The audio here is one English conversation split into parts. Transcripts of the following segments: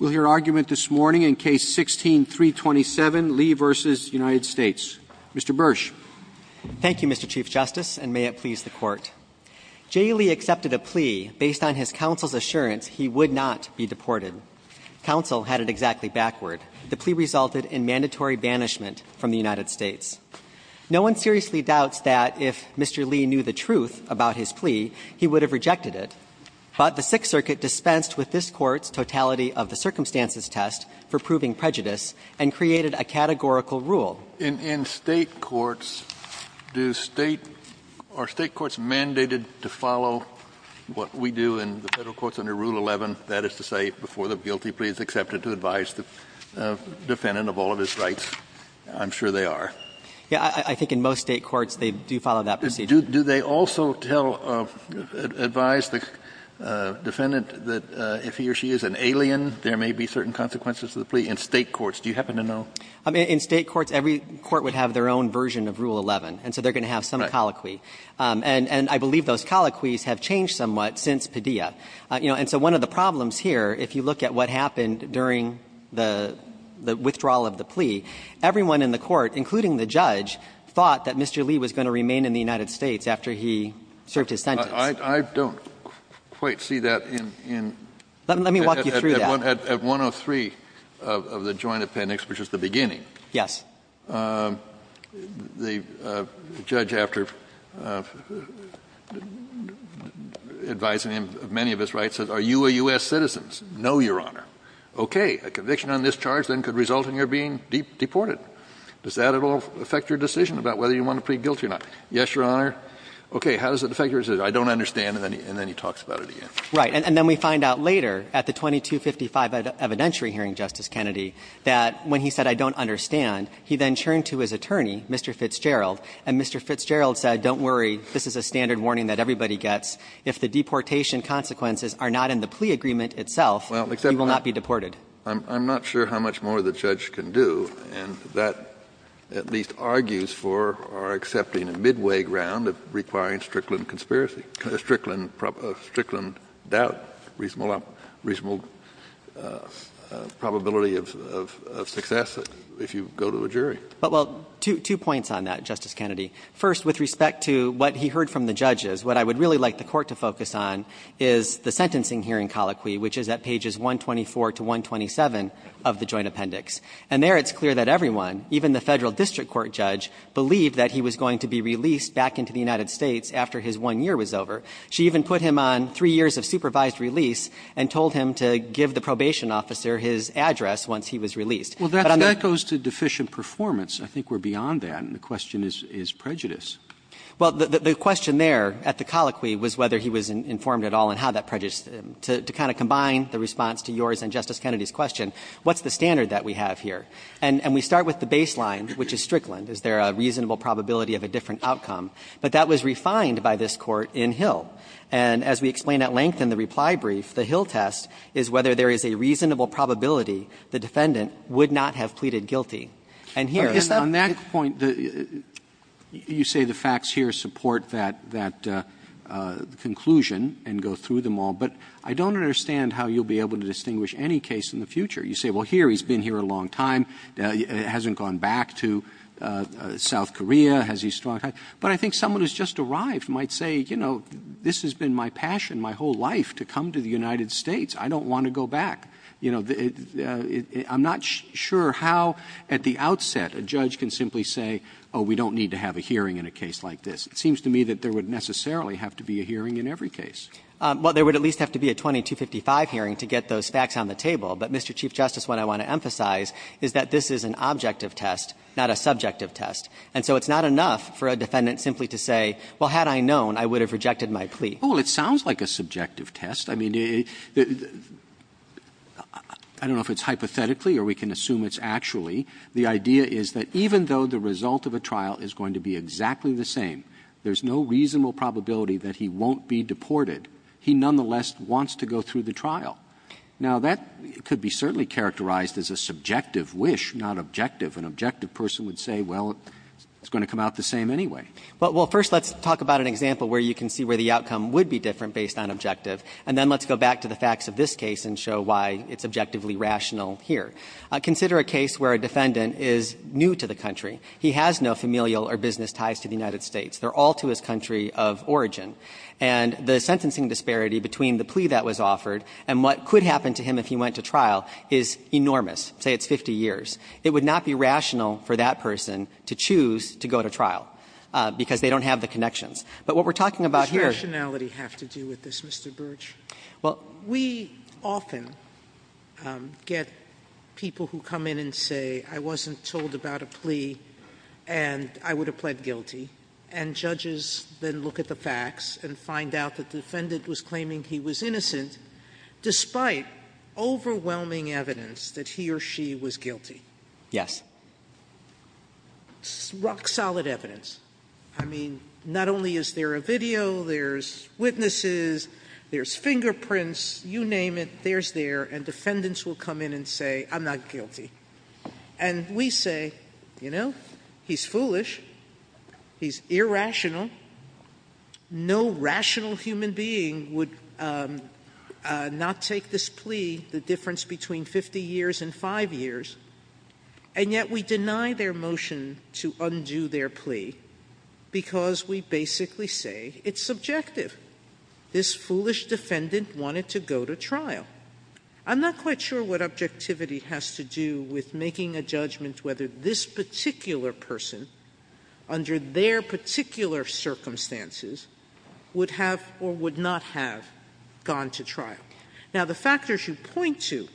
We'll hear argument this morning in Case 16-327, Lee v. United States. Mr. Bursch. Thank you, Mr. Chief Justice, and may it please the Court. J. Lee accepted a plea based on his counsel's assurance he would not be deported. Counsel had it exactly backward. The plea resulted in mandatory banishment from the United States. No one seriously doubts that if Mr. Lee knew the truth about his plea, he would have rejected it. But the Sixth Circuit dispensed with this Court's totality of the circumstances test for proving prejudice and created a categorical rule. In State courts, do State – are State courts mandated to follow what we do in the Federal courts under Rule 11, that is to say, before the guilty plea is accepted to advise the defendant of all of his rights? I'm sure they are. I think in most State courts they do follow that procedure. Do they also tell, advise the defendant that if he or she is an alien, there may be certain consequences to the plea in State courts? Do you happen to know? In State courts, every court would have their own version of Rule 11, and so they're going to have some colloquy. And I believe those colloquies have changed somewhat since Padilla. And so one of the problems here, if you look at what happened during the withdrawal of the plea, everyone in the Court, including the judge, thought that Mr. Lee was going to remain in the United States after he served his sentence. Kennedy, I don't quite see that in the case. Let me walk you through that. At 103 of the Joint Appendix, which is the beginning, the judge, after advising him of many of his rights, said, are you a U.S. citizen? No, Your Honor. Okay. A conviction on this charge then could result in your being deported. Does that at all affect your decision about whether you want to plead guilty or not? Yes, Your Honor. Okay. How does it affect your decision? I don't understand, and then he talks about it again. Right. And then we find out later, at the 2255 evidentiary hearing, Justice Kennedy, that when he said, I don't understand, he then turned to his attorney, Mr. Fitzgerald, and Mr. Fitzgerald said, don't worry, this is a standard warning that everybody gets. If the deportation consequences are not in the plea agreement itself, he will not be deported. I'm not sure how much more the judge can do, and that at least argues for our accepting a midway ground of requiring Strickland conspiracy, Strickland doubt, reasonable probability of success, if you go to a jury. Well, two points on that, Justice Kennedy. First, with respect to what he heard from the judges, what I would really like the Court to focus on is the sentencing hearing colloquy, which is at pages 124 to 127 of the joint appendix. And there it's clear that everyone, even the Federal district court judge, believed that he was going to be released back into the United States after his one year was over. She even put him on three years of supervised release and told him to give the probation officer his address once he was released. But on the other hand, that goes to deficient performance. I think we're beyond that, and the question is prejudice. Well, the question there at the colloquy was whether he was informed at all and how that prejudice, to kind of combine the response to yours and Justice Kennedy's question, what's the standard that we have here? And we start with the baseline, which is Strickland. Is there a reasonable probability of a different outcome? But that was refined by this Court in Hill. And as we explain at length in the reply brief, the Hill test is whether there is a reasonable probability the defendant would not have pleaded guilty. And here, is that the case? Roberts, you say the facts here support that conclusion and go through them all. But I don't understand how you'll be able to distinguish any case in the future. You say, well, here, he's been here a long time. He hasn't gone back to South Korea. Has he struck out? But I think someone who's just arrived might say, you know, this has been my passion my whole life, to come to the United States. I don't want to go back. You know, I'm not sure how at the outset a judge can simply say, oh, we don't need to have a hearing in a case like this. It seems to me that there would necessarily have to be a hearing in every case. Well, there would at least have to be a 20-255 hearing to get those facts on the table. But, Mr. Chief Justice, what I want to emphasize is that this is an objective test, not a subjective test. And so it's not enough for a defendant simply to say, well, had I known, I would have rejected my plea. Roberts, it sounds like a subjective test. I mean, I don't know if it's hypothetically or we can assume it's actually. The idea is that even though the result of a trial is going to be exactly the same, there's no reasonable probability that he won't be deported. He nonetheless wants to go through the trial. Now, that could be certainly characterized as a subjective wish, not objective. An objective person would say, well, it's going to come out the same anyway. Well, first let's talk about an example where you can see where the outcome would be different based on objective, and then let's go back to the facts of this case and show why it's objectively rational here. Consider a case where a defendant is new to the country. He has no familial or business ties to the United States. They're all to his country of origin. And the sentencing disparity between the plea that was offered and what could happen to him if he went to trial is enormous, say it's 50 years. It would not be rational for that person to choose to go to trial because they don't have the connections. But what we're talking about here Is rationality have to do with this, Mr. Birch? Well, we often get people who come in and say, I wasn't told about a plea and I would have pled guilty, and judges then look at the facts and find out that the defendant was claiming he was innocent, despite overwhelming evidence that he or she was guilty. Yes. Rock solid evidence. I mean, not only is there a video, there's witnesses, there's fingerprints, you name it, there's there, and defendants will come in and say, I'm not guilty. And we say, you know, he's foolish. He's irrational. No rational human being would not take this plea, the difference between 50 years and five years. And yet we deny their motion to undo their plea because we basically say it's subjective. This foolish defendant wanted to go to trial. I'm not quite sure what objectivity has to do with making a judgment whether this particular person, under their particular circumstances, would have or would not have gone to trial. Now, the factors you point to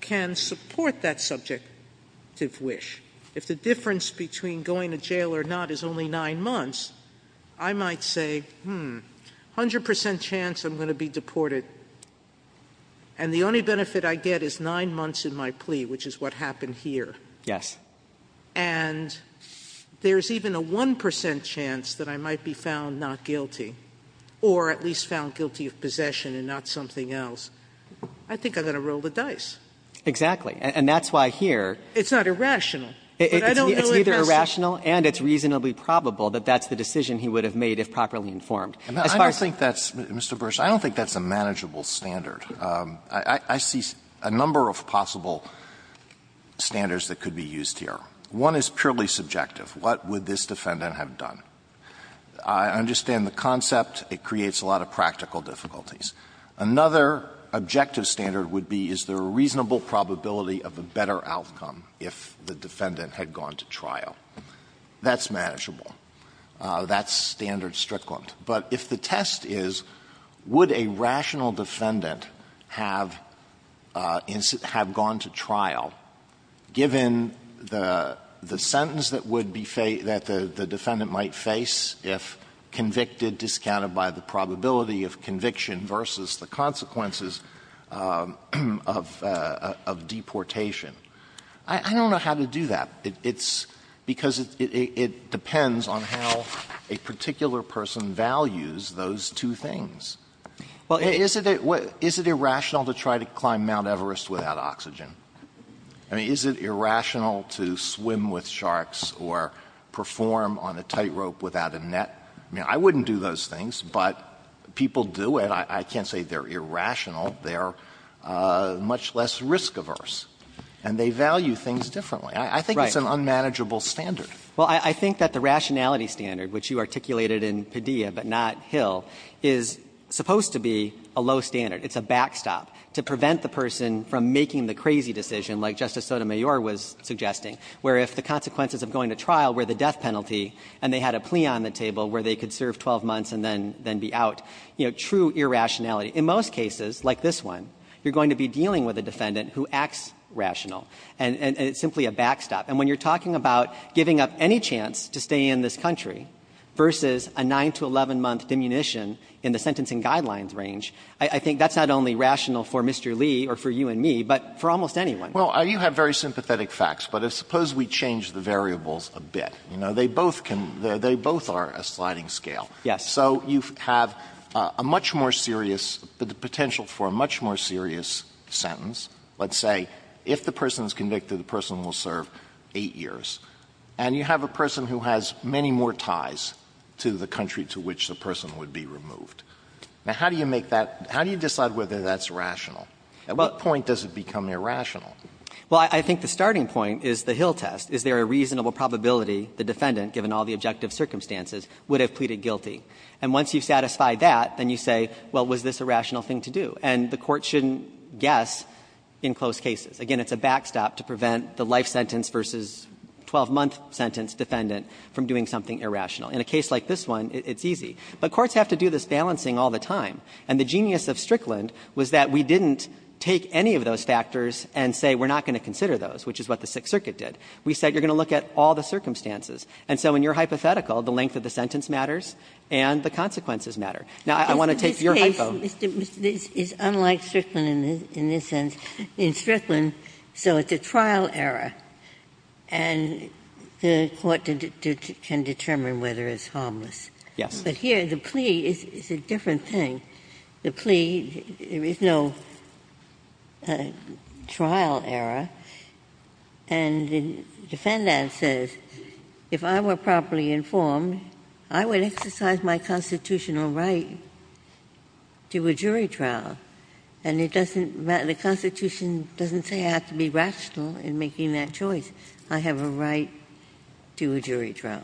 can support that subjective wish. If the difference between going to jail or not is only nine months, I might say, hmm, 100% chance I'm going to be deported. And the only benefit I get is nine months in my plea, which is what happened here. Yes. And there's even a 1% chance that I might be found not guilty. Or at least found guilty of possession and not something else. I think I'm going to roll the dice. Exactly, and that's why here- It's not irrational. It's neither irrational and it's reasonably probable that that's the decision he would have made if properly informed. As far as- I don't think that's, Mr. Bursch, I don't think that's a manageable standard. I see a number of possible standards that could be used here. One is purely subjective. What would this defendant have done? I understand the concept. It creates a lot of practical difficulties. Another objective standard would be is there a reasonable probability of a better outcome if the defendant had gone to trial. That's manageable. That's standard strictly. But if the test is, would a rational defendant have gone to trial given the sentence that would be fa- that the defendant might face if convicted, discounted by the probability of conviction versus the consequences of deportation? I don't know how to do that. It's because it depends on how a particular person values those two things. Well, is it irrational to try to climb Mount Everest without oxygen? I mean, is it irrational to swim with sharks or perform on a tightrope without a net? I mean, I wouldn't do those things, but people do it. I can't say they're irrational. They're much less risk-averse, and they value things differently. I think it's an unmanageable standard. Well, I think that the rationality standard, which you articulated in Padilla but not Hill, is supposed to be a low standard. It's a backstop to prevent the person from making the crazy decision like Justice Sotomayor was suggesting, where if the consequences of going to trial were the death penalty and they had a plea on the table where they could serve 12 months and then be out, you know, true irrationality. In most cases, like this one, you're going to be dealing with a defendant who acts rational, and it's simply a backstop. And when you're talking about giving up any chance to stay in this country versus a 9- to 11-month diminution in the sentencing guidelines range, I think that's not only rational for Mr. Lee or for you and me, but for almost anyone. Well, you have very sympathetic facts, but suppose we change the variables a bit. You know, they both can — they both are a sliding scale. Yes. So you have a much more serious — the potential for a much more serious sentence. Let's say if the person is convicted, the person will serve 8 years. And you have a person who has many more ties to the country to which the person would be removed. Now, how do you make that — how do you decide whether that's rational? At what point does it become irrational? Well, I think the starting point is the Hill test. Is there a reasonable probability the defendant, given all the objective circumstances, would have pleaded guilty? And once you've satisfied that, then you say, well, was this a rational thing to do? And the court shouldn't guess in close cases. Again, it's a backstop to prevent the life sentence versus 12-month sentence defendant from doing something irrational. In a case like this one, it's easy. But courts have to do this balancing all the time. And the genius of Strickland was that we didn't take any of those factors and say we're not going to consider those, which is what the Sixth Circuit did. We said you're going to look at all the circumstances. And so in your hypothetical, the length of the sentence matters and the consequences matter. Now, I want to take your hypo. It's unlike Strickland in this sense. In Strickland, so it's a trial error. And the court can determine whether it's harmless. Yes. But here, the plea is a different thing. The plea, there is no trial error. And the defendant says, if I were properly informed, I would exercise my constitutional right to a jury trial. And the Constitution doesn't say I have to be rational in making that choice. I have a right to a jury trial.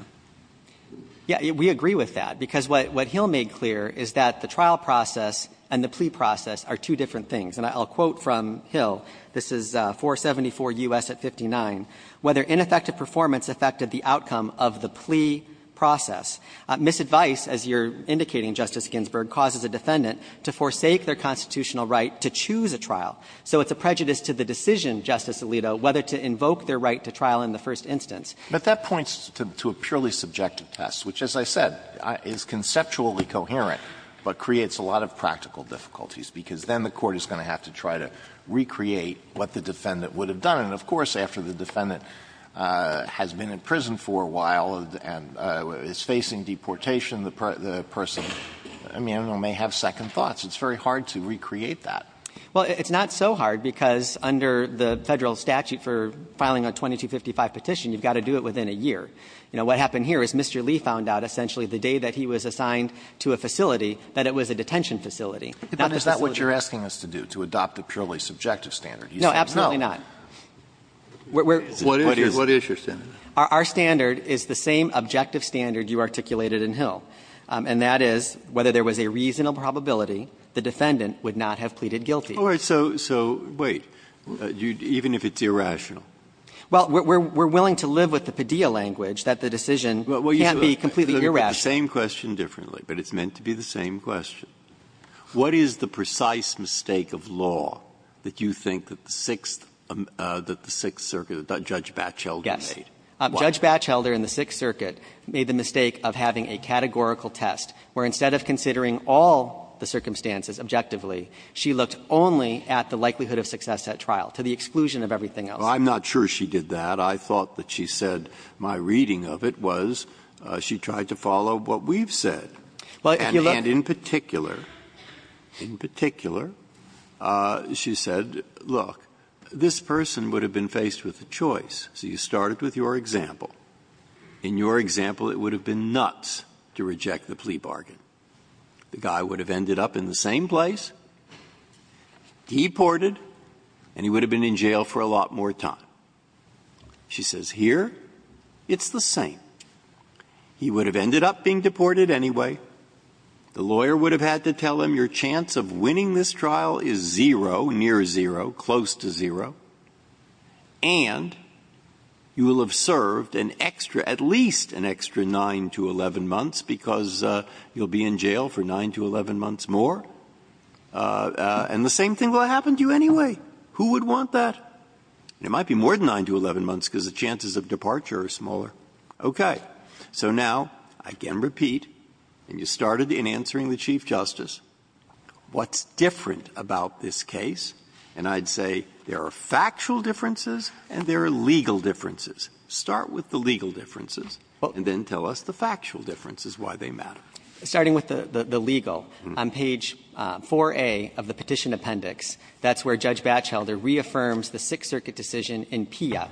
Yeah, we agree with that. Because what Hill made clear is that the trial process and the plea process are two different things. And I'll quote from Hill. This is 474 U.S. at 59. Whether ineffective performance affected the outcome of the plea process. Misadvice, as you're indicating, Justice Ginsburg, causes a defendant to forsake their constitutional right to choose a trial. So it's a prejudice to the decision, Justice Alito, whether to invoke their right to trial in the first instance. But that points to a purely subjective test, which, as I said, is conceptually coherent, but creates a lot of practical difficulties, because then the court is going to have to try to recreate what the defendant would have done. And of course, after the defendant has been in prison for a while and is facing deportation, the person, I mean, may have second thoughts. It's very hard to recreate that. Well, it's not so hard, because under the Federal statute for filing a 2255 petition, you've got to do it within a year. You know, what happened here is Mr. Lee found out essentially the day that he was assigned to a facility that it was a detention facility, not a facility. But is that what you're asking us to do, to adopt a purely subjective standard? No, absolutely not. What is your standard? Our standard is the same objective standard you articulated in Hill, and that is whether there was a reasonable probability the defendant would not have pleaded guilty. All right. So wait. Even if it's irrational? Well, we're willing to live with the Padilla language that the decision can't be completely irrational. The same question differently, but it's meant to be the same question. What is the precise mistake of law that you think that the Sixth Circuit, that Judge Batchelder made? Yes. Why? Judge Batchelder in the Sixth Circuit made the mistake of having a categorical test where instead of considering all the circumstances objectively, she looked only at the likelihood of success at trial, to the exclusion of everything else. Well, I'm not sure she did that. I thought that she said my reading of it was she tried to follow what we've said. And in particular, in particular, she said, look, this person would have been faced with a choice. So you started with your example. In your example, it would have been nuts to reject the plea bargain. The guy would have ended up in the same place, deported, and he would have been in jail for a lot more time. She says here, it's the same. He would have ended up being deported anyway. The lawyer would have had to tell him your chance of winning this trial is zero, near zero, close to zero. And you will have served an extra, at least an extra 9 to 11 months, because you'll be in jail for 9 to 11 months more. And the same thing will happen to you anyway. Who would want that? It might be more than 9 to 11 months because the chances of departure are smaller. Okay. So now, I can repeat, and you started in answering the Chief Justice, what's different about this case? And I'd say there are factual differences and there are legal differences. Start with the legal differences and then tell us the factual differences, why they matter. Burschell, starting with the legal, on page 4A of the Petition Appendix, that's where Judge Batchelder reaffirms the Sixth Circuit decision in PILLA,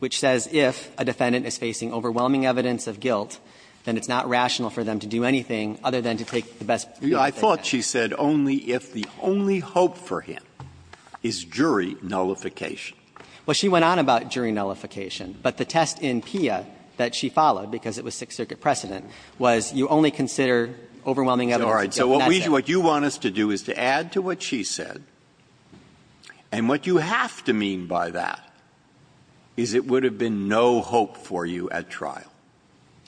which says if a defendant is facing overwhelming evidence of guilt, then it's not rational for them to do anything other than to take the best preemptive action. I thought she said only if the only hope for him is jury nullification. Well, she went on about jury nullification. But the test in PILLA that she followed, because it was Sixth Circuit precedent, was you only consider overwhelming evidence of guilt in that case. So what you want us to do is to add to what she said, and what you have to mean by that is it would have been no hope for you at trial.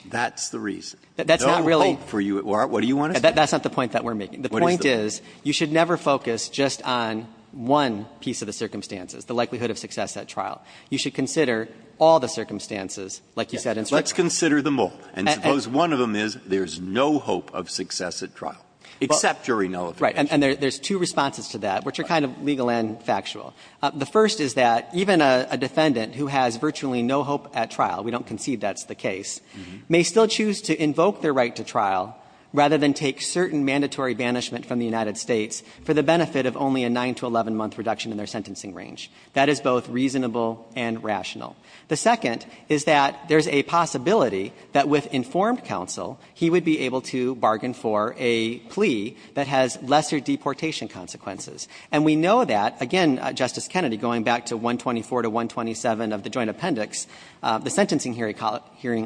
That's the reason. No hope for you at trial. What do you want to say? That's not the point that we're making. The point is you should never focus just on one piece of the circumstances, the likelihood of success at trial. You should consider all the circumstances, like you said in Strict Crime. Let's consider them all. And suppose one of them is there's no hope of success at trial, except jury nullification. Right. And there's two responses to that, which are kind of legal and factual. The first is that even a defendant who has virtually no hope at trial, we don't concede that's the case, may still choose to invoke their right to trial rather than take certain mandatory banishment from the United States for the benefit of only a 9- to 11-month reduction in their sentencing range. That is both reasonable and rational. The second is that there's a possibility that with informed counsel, he would be able to bargain for a plea that has lesser deportation consequences. And we know that, again, Justice Kennedy, going back to 124 to 127 of the Joint Appendix, the sentencing hearing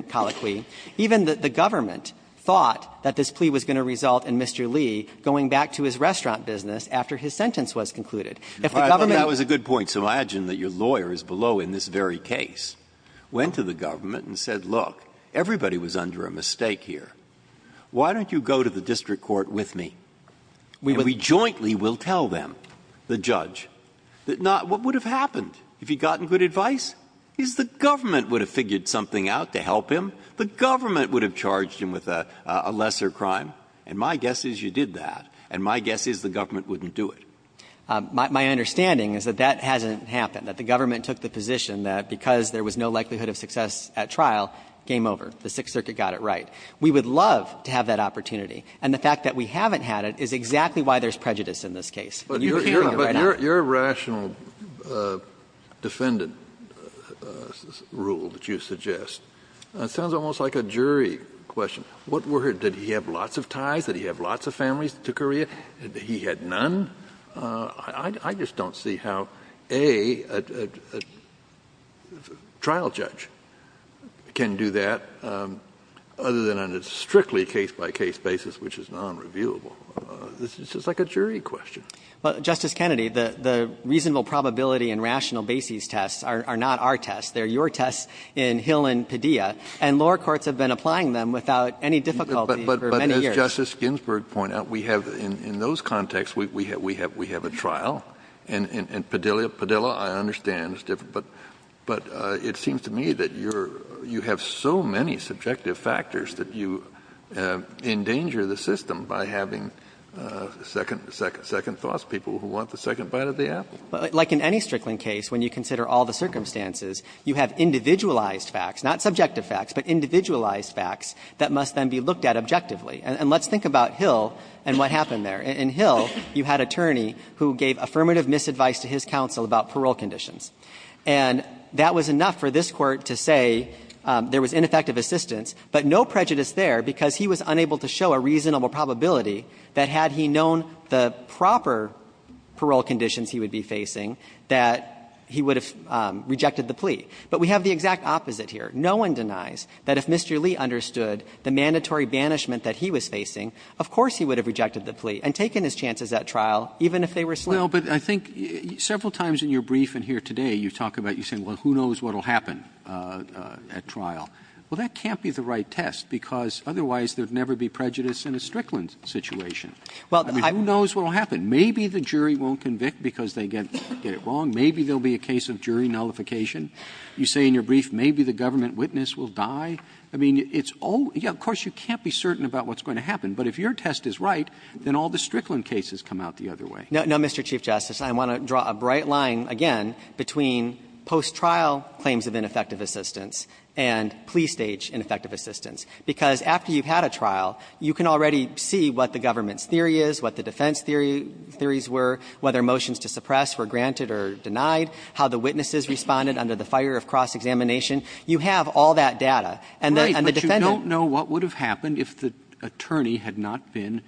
colloquy, even the government thought that this plea was going to result in Mr. Lee going back to his restaurant business after his sentence was concluded. If the government was a good point, so imagine that your lawyer is below in this very case, went to the government and said, look, everybody was under a mistake here. Why don't you go to the district court with me? And we jointly will tell them, the judge, that not what would have happened if he had gotten good advice is the government would have figured something out to help him. The government would have charged him with a lesser crime. And my guess is you did that. And my guess is the government wouldn't do it. My understanding is that that hasn't happened, that the government took the position that because there was no likelihood of success at trial, game over. The Sixth Circuit got it right. We would love to have that opportunity. And the fact that we haven't had it is exactly why there's prejudice in this case. Kennedy, you're hearing it right now. Kennedy, but your rational defendant rule that you suggest sounds almost like a jury question. What were his – did he have lots of ties? Did he have lots of families to Korea? Did he have none? I just don't see how a trial judge can do that other than on a strictly case-by-case basis which is nonreviewable. It's just like a jury question. Justice Kennedy, the reasonable probability and rational basis tests are not our tests. They're your tests in Hill and Padilla. And lower courts have been applying them without any difficulty for many years. But as Justice Ginsburg pointed out, we have – in those contexts, we have a trial. And Padilla, I understand, is different. But it seems to me that you're – you have so many subjective factors that you endanger the system by having second thoughts, people who want the second bite of the apple. Like in any strickling case, when you consider all the circumstances, you have individualized facts, not subjective facts, but individualized facts that must then be looked at objectively. And let's think about Hill and what happened there. In Hill, you had an attorney who gave affirmative misadvice to his counsel about parole conditions. And that was enough for this Court to say there was ineffective assistance, but no prejudice there because he was unable to show a reasonable probability that had he known the proper parole conditions he would be facing, that he would have rejected the plea. But we have the exact opposite here. No one denies that if Mr. Lee understood the mandatory banishment that he was facing, of course he would have rejected the plea and taken his chances at trial, even if they were slow. Well, but I think several times in your brief and here today, you talk about – you say, well, who knows what will happen at trial. Well, that can't be the right test because otherwise there would never be prejudice in a strickland situation. I mean, who knows what will happen? Maybe the jury won't convict because they get it wrong. Maybe there will be a case of jury nullification. You say in your brief maybe the government witness will die. I mean, it's – yeah, of course you can't be certain about what's going to happen. But if your test is right, then all the strickland cases come out the other way. No, Mr. Chief Justice, I want to draw a bright line, again, between post-trial claims of ineffective assistance and plea stage ineffective assistance. Because after you've had a trial, you can already see what the government's theory is, what the defense theories were, whether motions to suppress were granted or denied, how the witnesses responded under the fire of cross-examination. You have all that data. And the defendant – Right, but you don't know what would have happened if the attorney had not been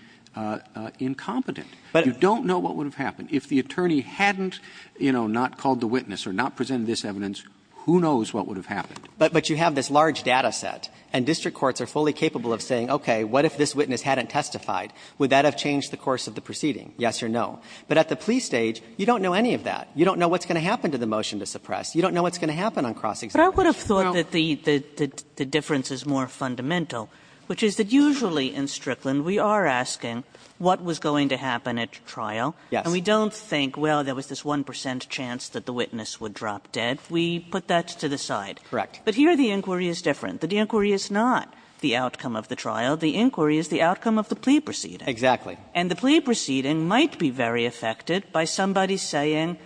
incompetent. You don't know what would have happened. If the attorney hadn't, you know, not called the witness or not presented this evidence, who knows what would have happened. But you have this large data set, and district courts are fully capable of saying, okay, what if this witness hadn't testified? Would that have changed the course of the proceeding? Yes or no. But at the plea stage, you don't know any of that. You don't know what's going to happen to the motion to suppress. You don't know what's going to happen on cross-examination. But I would have thought that the difference is more fundamental, which is that usually in Strickland, we are asking what was going to happen at trial. Yes. And we don't think, well, there was this 1 percent chance that the witness would drop dead. We put that to the side. Correct. But here the inquiry is different. The inquiry is not the outcome of the trial. The inquiry is the outcome of the plea proceeding. Exactly. And the plea proceeding might be very affected by somebody saying,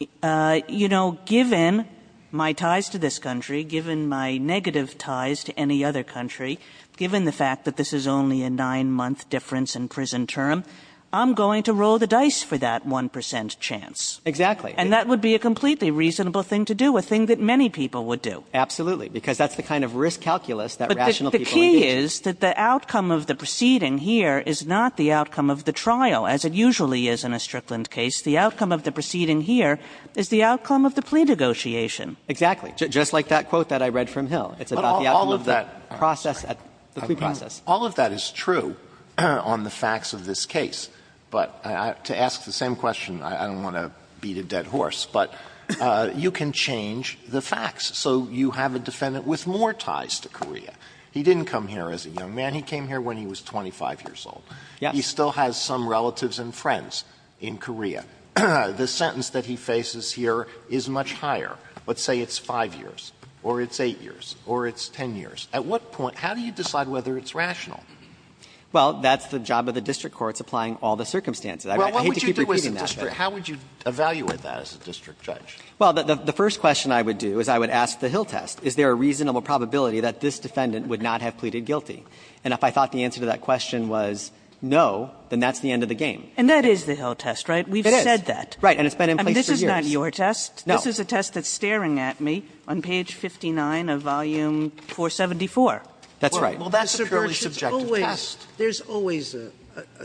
you know, given my ties to this country, given my negative ties to any other country, given the fact that this is only a 9-month difference in prison term, I'm going to roll the dice for that 1 percent chance. Exactly. And that would be a completely reasonable thing to do, a thing that many people would do. Absolutely, because that's the kind of risk calculus that rational people engage in. But the key is that the outcome of the proceeding here is not the outcome of the trial, as it usually is in a Strickland case. The outcome of the proceeding here is the outcome of the plea negotiation. Exactly. Just like that quote that I read from Hill. It's about the outcome of the process at the plea process. All of that is true on the facts of this case. But to ask the same question, I don't want to beat a dead horse, but you can change the facts. So you have a defendant with more ties to Korea. He didn't come here as a young man. He came here when he was 25 years old. Yes. He still has some relatives and friends in Korea. The sentence that he faces here is much higher. Let's say it's 5 years or it's 8 years or it's 10 years. At what point, how do you decide whether it's rational? Well, that's the job of the district courts, applying all the circumstances. I hate to keep repeating that. How would you evaluate that as a district judge? Well, the first question I would do is I would ask the Hill test. Is there a reasonable probability that this defendant would not have pleaded guilty? And if I thought the answer to that question was no, then that's the end of the game. And that is the Hill test, right? We've said that. Right. And it's been in place for years. This is not your test. No. This is a test that's staring at me on page 59 of volume 474. That's right. Well, that's a purely subjective test. There's always a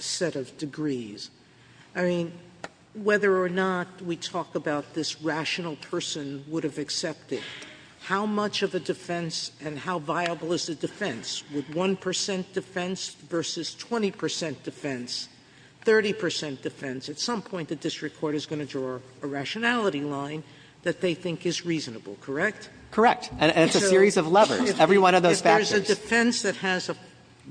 set of degrees. I mean, whether or not we talk about this rational person would have accepted. How much of a defense and how viable is the defense? With 1% defense versus 20% defense, 30% defense. At some point, the district court is going to draw a rationality line that they think is reasonable, correct? Correct. And it's a series of levers. Every one of those factors. If there's a defense that has a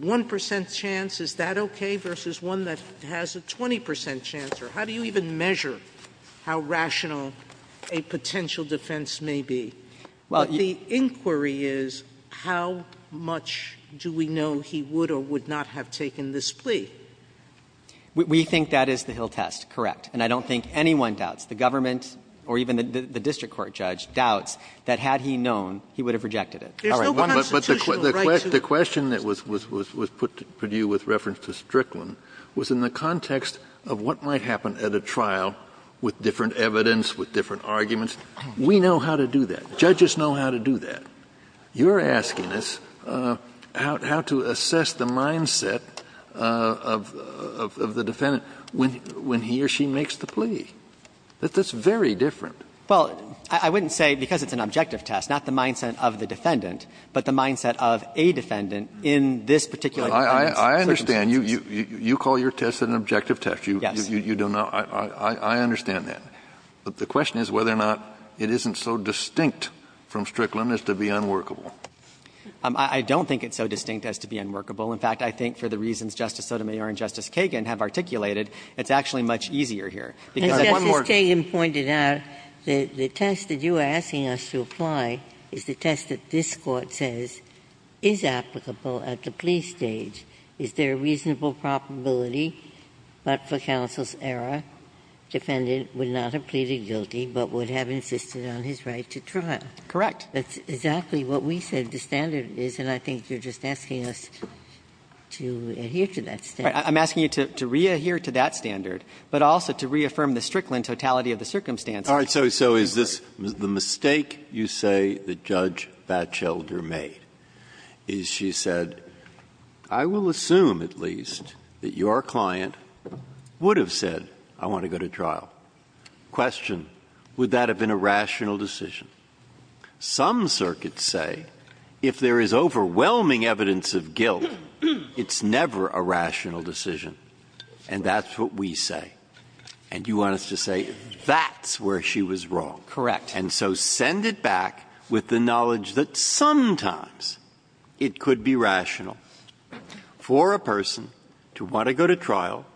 1% chance, is that okay, versus one that has a 20% chance? Or how do you even measure how rational a potential defense may be? Well, you – But the inquiry is how much do we know he would or would not have taken this plea? We think that is the Hill test, correct. And I don't think anyone doubts, the government or even the district court judge doubts that had he known, he would have rejected it. All right. But the question that was put to you with reference to Strickland was in the context of what might happen at a trial with different evidence, with different arguments. We know how to do that. Judges know how to do that. You're asking us how to assess the mindset of the defendant when he or she makes the plea. That's very different. Well, I wouldn't say because it's an objective test, not the mindset of the defendant, but the mindset of a defendant in this particular defendant's circumstances. I understand. You call your test an objective test. Yes. You don't know. I understand that. But the question is whether or not it isn't so distinct from Strickland as to be unworkable. I don't think it's so distinct as to be unworkable. In fact, I think for the reasons Justice Sotomayor and Justice Kagan have articulated, it's actually much easier here. One more. Justice Kagan pointed out that the test that you are asking us to apply is the test that this Court says is applicable at the plea stage. Is there a reasonable probability, but for counsel's error, defendant would not have pleaded guilty, but would have insisted on his right to trial? Correct. That's exactly what we said the standard is, and I think you're just asking us to adhere to that standard. I'm asking you to re-adhere to that standard, but also to reaffirm the Strickland totality of the circumstances. All right. So is this the mistake you say that Judge Batchelder made, is she said, I will assume at least that your client would have said, I want to go to trial. Question, would that have been a rational decision? Some circuits say if there is overwhelming evidence of guilt, it's never a rational decision, and that's what we say. And you want us to say that's where she was wrong. Correct. And so send it back with the knowledge that sometimes it could be rational for a person to want to go to trial,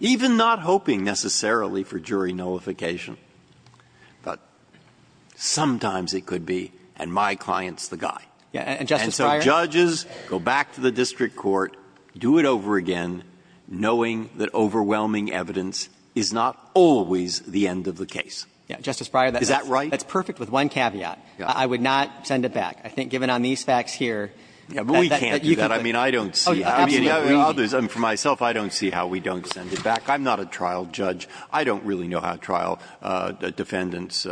even not hoping necessarily for jury nullification. But sometimes it could be, and my client's the guy. And so judges go back to the district court, do it over again, knowing that overwhelming evidence is not always the end of the case. Is that right? That's perfect with one caveat. I would not send it back. I think given on these facts here that you could do it. But we can't do that. I mean, I don't see how any of the others could do that. For myself, I don't see how we don't send it back. I'm not a trial judge. I don't really know how trial defendants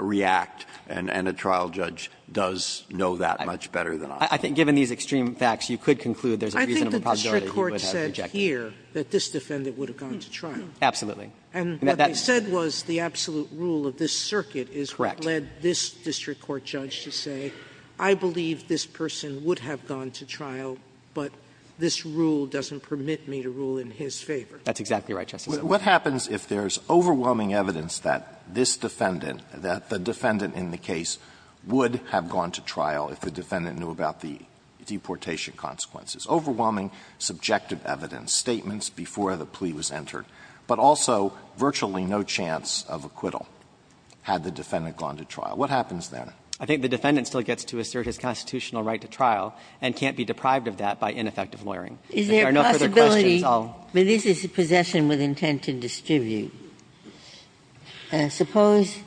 react, and a trial judge does know that much better than I do. I think given these extreme facts, you could conclude there's a reasonable possibility that you would have rejected it. I think the district court said here that this defendant would have gone to trial. Absolutely. And what they said was the absolute rule of this circuit is what led this district court judge to say, I believe this person would have gone to trial, but this rule doesn't permit me to rule in his favor. That's exactly right, Justice Alito. What happens if there's overwhelming evidence that this defendant, that the defendant in the case would have gone to trial if the defendant knew about the deportation consequences? Overwhelming subjective evidence, statements before the plea was entered, but also virtually no chance of acquittal had the defendant gone to trial. What happens then? I think the defendant still gets to assert his constitutional right to trial and can't be deprived of that by ineffective lawyering. Is there a possibility? If there are no further questions, I'll... But this is possession with intent to distribute. Suppose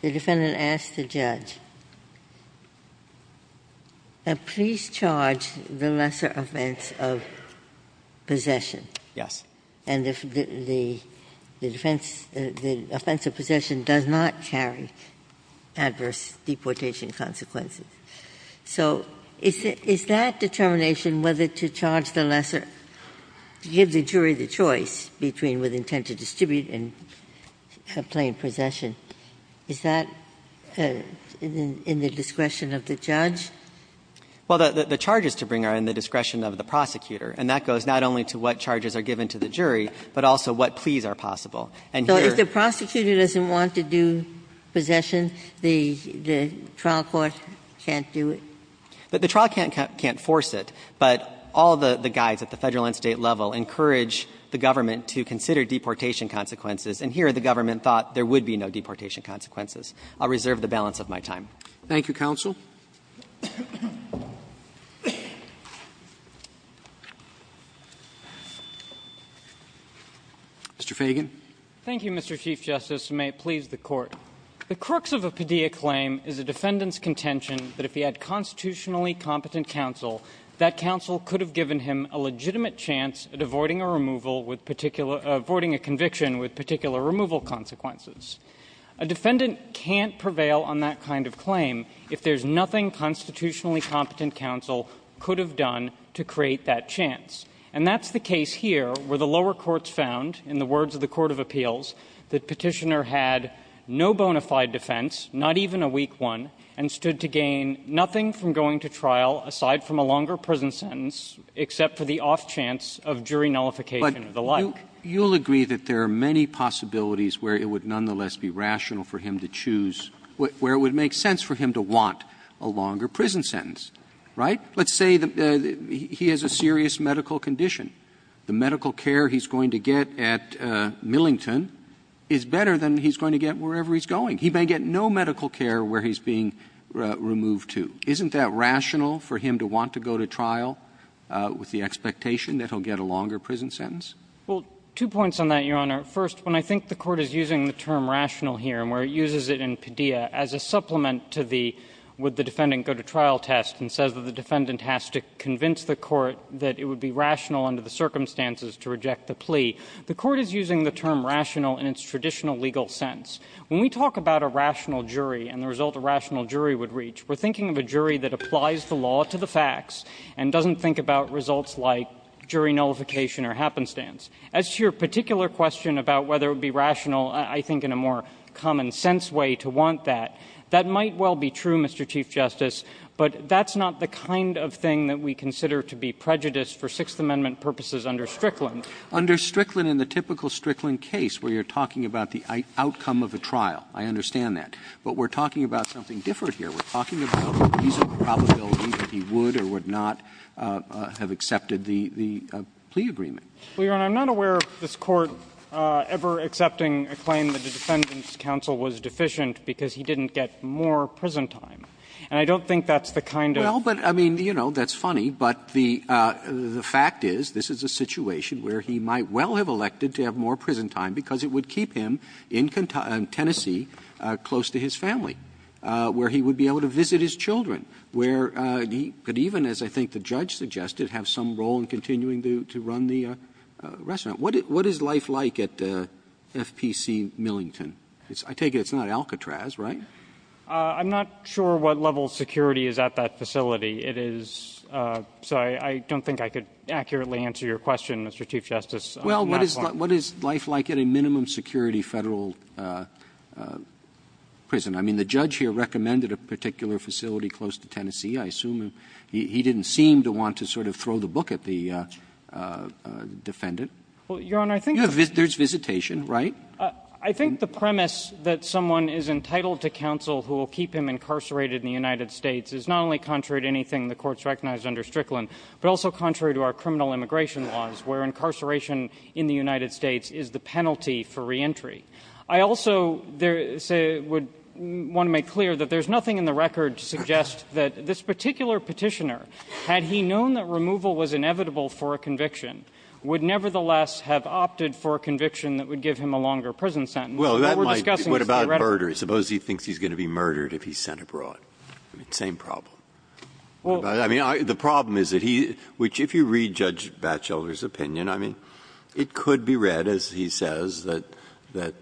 the defendant asks the judge, please charge the lesser offense of possession. Yes. And the defense, the offense of possession does not carry adverse deportation consequences. So is that determination whether to charge the lesser, give the jury the choice between with intent to distribute and plain possession, is that in the discretion of the judge? Well, the charges to bring are in the discretion of the prosecutor, and that goes not only to what charges are given to the jury, but also what pleas are possible. And here... So if the prosecutor doesn't want to do possession, the trial court can't do it? The trial can't force it, but all the guides at the Federal and State level encourage the government to consider deportation consequences, and here the government thought there would be no deportation consequences. I'll reserve the balance of my time. Thank you, counsel. Mr. Feigin. Thank you, Mr. Chief Justice, and may it please the Court. The crux of a Padilla claim is a defendant's contention that if he had constitutionally competent counsel, that counsel could have given him a legitimate chance at avoiding a removal with particular – avoiding a conviction with particular removal consequences. A defendant can't prevail on that kind of claim if there's nothing constitutionally competent counsel could have done to create that chance. And that's the case here, where the lower courts found, in the words of the court of appeals, that Petitioner had no bona fide defense, not even a weak one, and stood to gain nothing from going to trial aside from a longer prison sentence, except for the off chance of jury nullification or the like. You'll agree that there are many possibilities where it would nonetheless be rational for him to choose – where it would make sense for him to want a longer prison sentence, right? Let's say that he has a serious medical condition. The medical care he's going to get at Millington is better than he's going to get wherever he's going. He may get no medical care where he's being removed to. Isn't that rational for him to want to go to trial with the expectation that he'll get a longer prison sentence? Well, two points on that, Your Honor. First, when I think the Court is using the term rational here, and where it uses it in Padilla as a supplement to the would the defendant go to trial test and says that the defendant has to convince the Court that it would be rational under the circumstances to reject the plea, the Court is using the term rational in its traditional legal sense. When we talk about a rational jury and the result a rational jury would reach, we're thinking of a jury that applies the law to the facts and doesn't think about results like jury nullification or happenstance. As to your particular question about whether it would be rational, I think in a more common sense way to want that, that might well be true, Mr. Chief Justice, but that's not the kind of thing that we consider to be prejudiced for Sixth Amendment purposes under Strickland. Under Strickland, in the typical Strickland case where you're talking about the outcome of a trial, I understand that. But we're talking about something different here. We're talking about the reasonable probability that he would or would not have accepted the plea agreement. Well, Your Honor, I'm not aware of this Court ever accepting a claim that the Defendant's counsel was deficient because he didn't get more prison time. And I don't think that's the kind of thing that would be true. Well, but, I mean, you know, that's funny, but the fact is this is a situation where he might well have elected to have more prison time because it would keep him in Tennessee close to his family, where he would be able to visit his children, where he could even, as I think the judge suggested, have some role in continuing to run the restaurant. What is life like at FPC Millington? I take it it's not Alcatraz, right? I'm not sure what level of security is at that facility. It is sorry, I don't think I could accurately answer your question, Mr. Chief Justice. Well, what is life like at a minimum security Federal prison? I mean, the judge here recommended a particular facility close to Tennessee. I assume he didn't seem to want to sort of throw the book at the Defendant. Well, Your Honor, I think there's visitation, right? I think the premise that someone is entitled to counsel who will keep him incarcerated in the United States is not only contrary to anything the Court's recognized under Strickland, but also contrary to our criminal immigration laws where incarceration in the United States is the penalty for reentry. I also would want to make clear that there's nothing in the record to suggest that this particular petitioner, had he known that removal was inevitable for a conviction, would nevertheless have opted for a conviction that would give him a longer prison sentence. What we're discussing is the red line. Well, what about murder? Suppose he thinks he's going to be murdered if he's sent abroad. Same problem. I mean, the problem is that he, which if you read Judge Batchelder's opinion, I mean, it could be read, as he says, that if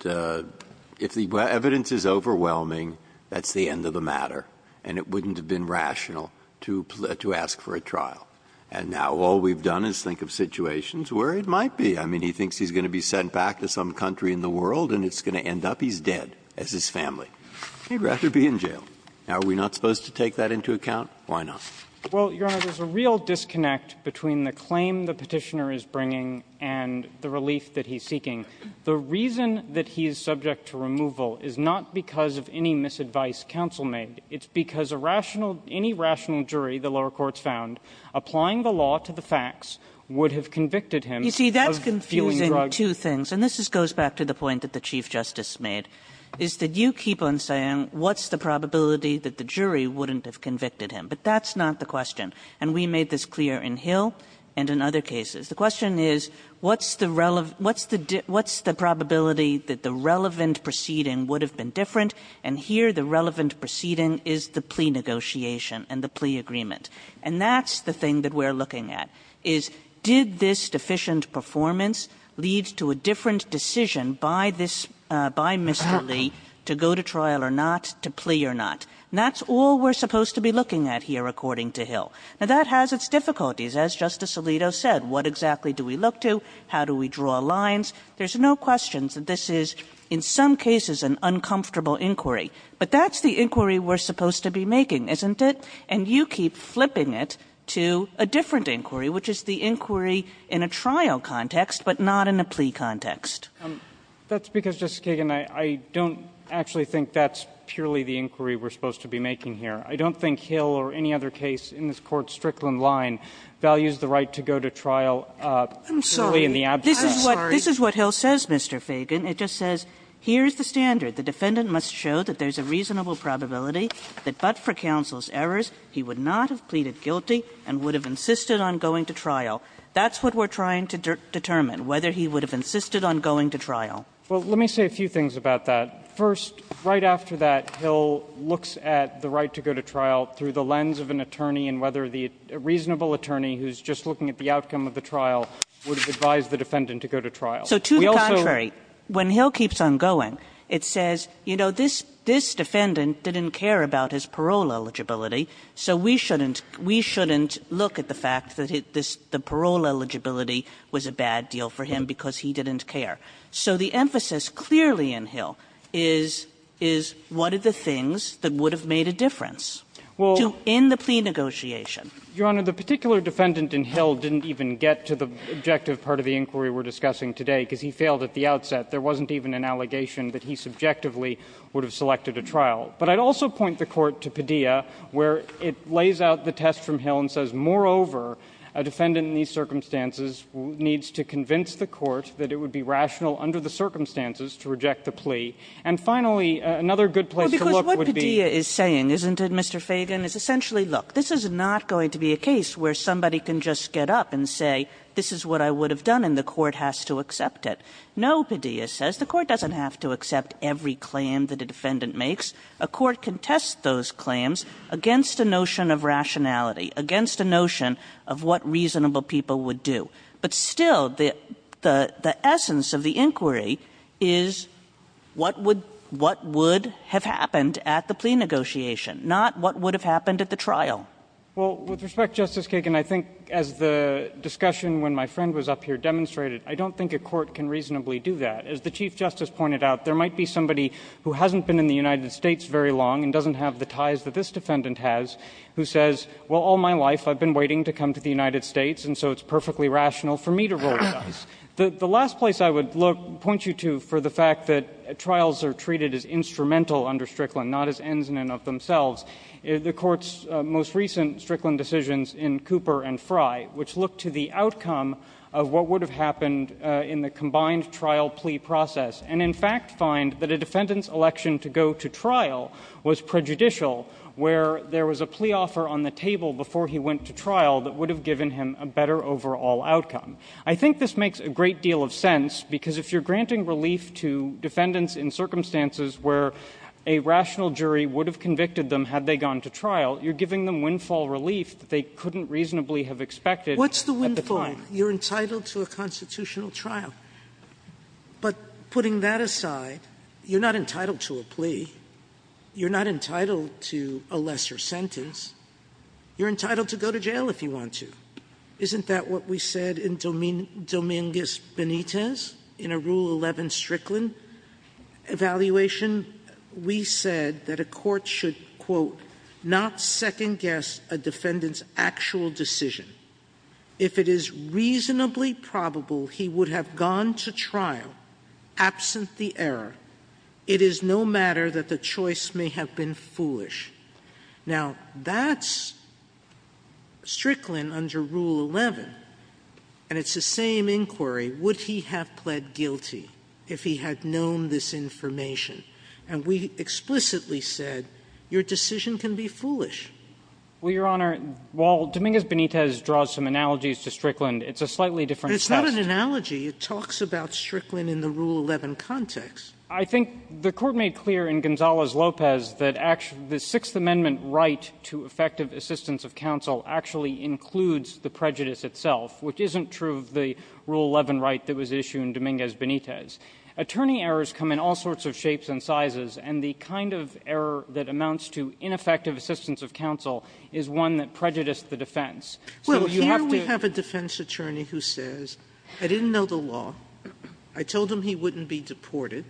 the evidence is overwhelming, that's the end of the matter, and it wouldn't have been rational to ask for a trial. And now all we've done is think of situations where it might be. I mean, he thinks he's going to be sent back to some country in the world, and it's going to end up he's dead as his family. He'd rather be in jail. Now, are we not supposed to take that into account? Why not? Well, Your Honor, there's a real disconnect between the claim the petitioner is bringing and the relief that he's seeking. The reason that he's subject to removal is not because of any misadvice counsel made. It's because a rational, any rational jury, the lower courts found, applying the law to the facts, would have convicted him of fueling drugs. You see, that's confusing two things, and this goes back to the point that the Chief Attorney has a probability that the jury wouldn't have convicted him, but that's not the question, and we made this clear in Hill and in other cases. The question is, what's the probability that the relevant proceeding would have been different, and here the relevant proceeding is the plea negotiation and the plea agreement, and that's the thing that we're looking at, is did this deficient performance lead to a different decision by this, by Mr. Lee to go to trial or not, to plea or not? And that's all we're supposed to be looking at here, according to Hill. Now, that has its difficulties, as Justice Alito said. What exactly do we look to? How do we draw lines? There's no question that this is, in some cases, an uncomfortable inquiry, but that's the inquiry we're supposed to be making, isn't it? And you keep flipping it to a different inquiry, which is the inquiry in a trial context, but not in a plea context. That's because, Justice Kagan, I don't actually think that's purely the inquiry we're supposed to be making here. I don't think Hill or any other case in this Court's Strickland line values the right to go to trial purely in the absence of plea. I'm sorry. I'm sorry. This is what Hill says, Mr. Fagan. It just says, here's the standard. The defendant must show that there's a reasonable probability that but for counsel's errors, he would not have pleaded guilty and would have insisted on going to trial. That's what we're trying to determine, whether he would have insisted on going to trial. Well, let me say a few things about that. First, right after that, Hill looks at the right to go to trial through the lens of an attorney and whether the reasonable attorney who's just looking at the outcome of the trial would advise the defendant to go to trial. So to the contrary, when Hill keeps on going, it says, you know, this defendant didn't care about his parole eligibility, so we shouldn't look at the fact that the parole eligibility was a bad deal for him because he didn't care. So the emphasis clearly in Hill is, is what are the things that would have made a difference to end the plea negotiation? Well, Your Honor, the particular defendant in Hill didn't even get to the objective part of the inquiry we're discussing today, because he failed at the outset. There wasn't even an allegation that he subjectively would have selected a trial. But I'd also point the Court to Padilla, where it lays out the test from Hill and says, moreover, a defendant in these circumstances needs to convince the Court that it would be rational under the circumstances to reject the plea. And finally, another good place to look would be- Well, because what Padilla is saying, isn't it, Mr. Fagan? Is essentially, look, this is not going to be a case where somebody can just get up and say, this is what I would have done, and the Court has to accept it. No, Padilla says, the Court doesn't have to accept every claim that a defendant makes. A court can test those claims against a notion of rationality, against a notion of what reasonable people would do. But still, the essence of the inquiry is what would have happened at the plea negotiation, not what would have happened at the trial. Well, with respect, Justice Kagan, I think, as the discussion when my friend was up here demonstrated, I don't think a court can reasonably do that. As the Chief Justice pointed out, there might be somebody who hasn't been in the United States very long and doesn't have the ties that this defendant has, who says, well, all my life, I've been waiting to come to the United States, and so it's perfectly rational for me to roll the dice. The last place I would look, point you to, for the fact that trials are treated as instrumental under Strickland, not as ends in and of themselves, is the Court's most recent Strickland decisions in Cooper and Fry, which look to the outcome of what would have happened in the combined trial plea process, and in fact find that a defendant's election to go to trial was prejudicial, where there was a plea offer on the table before he went to trial that would have given him a better overall outcome. I think this makes a great deal of sense, because if you're granting relief to defendants in circumstances where a rational jury would have convicted them had they gone to trial, you're giving them windfall relief that they couldn't reasonably have expected at the time. Sotomayor, you're entitled to a constitutional trial. But putting that aside, you're not entitled to a plea. You're not entitled to a lesser sentence. You're entitled to go to jail if you want to. Isn't that what we said in Dominguez Benitez, in a Rule 11 Strickland evaluation? We said that a court should, quote, not second guess a defendant's actual decision. If it is reasonably probable he would have gone to trial absent the error, it is no matter that the choice may have been foolish. Now, that's Strickland under Rule 11. And it's the same inquiry. Would he have pled guilty if he had known this information? And we explicitly said, your decision can be foolish. Well, Your Honor, while Dominguez Benitez draws some analogies to Strickland, it's a slightly different test. It's not an analogy. It talks about Strickland in the Rule 11 context. I think the Court made clear in Gonzales-Lopez that the Sixth Amendment right to effective assistance of counsel actually includes the prejudice itself, which isn't true of the Rule 11 right that was issued in Dominguez-Benitez. Attorney errors come in all sorts of shapes and sizes, and the kind of error that amounts to ineffective assistance of counsel is one that prejudiced the defense. So you have to ---- Sotomayor, here we have a defense attorney who says, I didn't know the law. I told him he wouldn't be deported.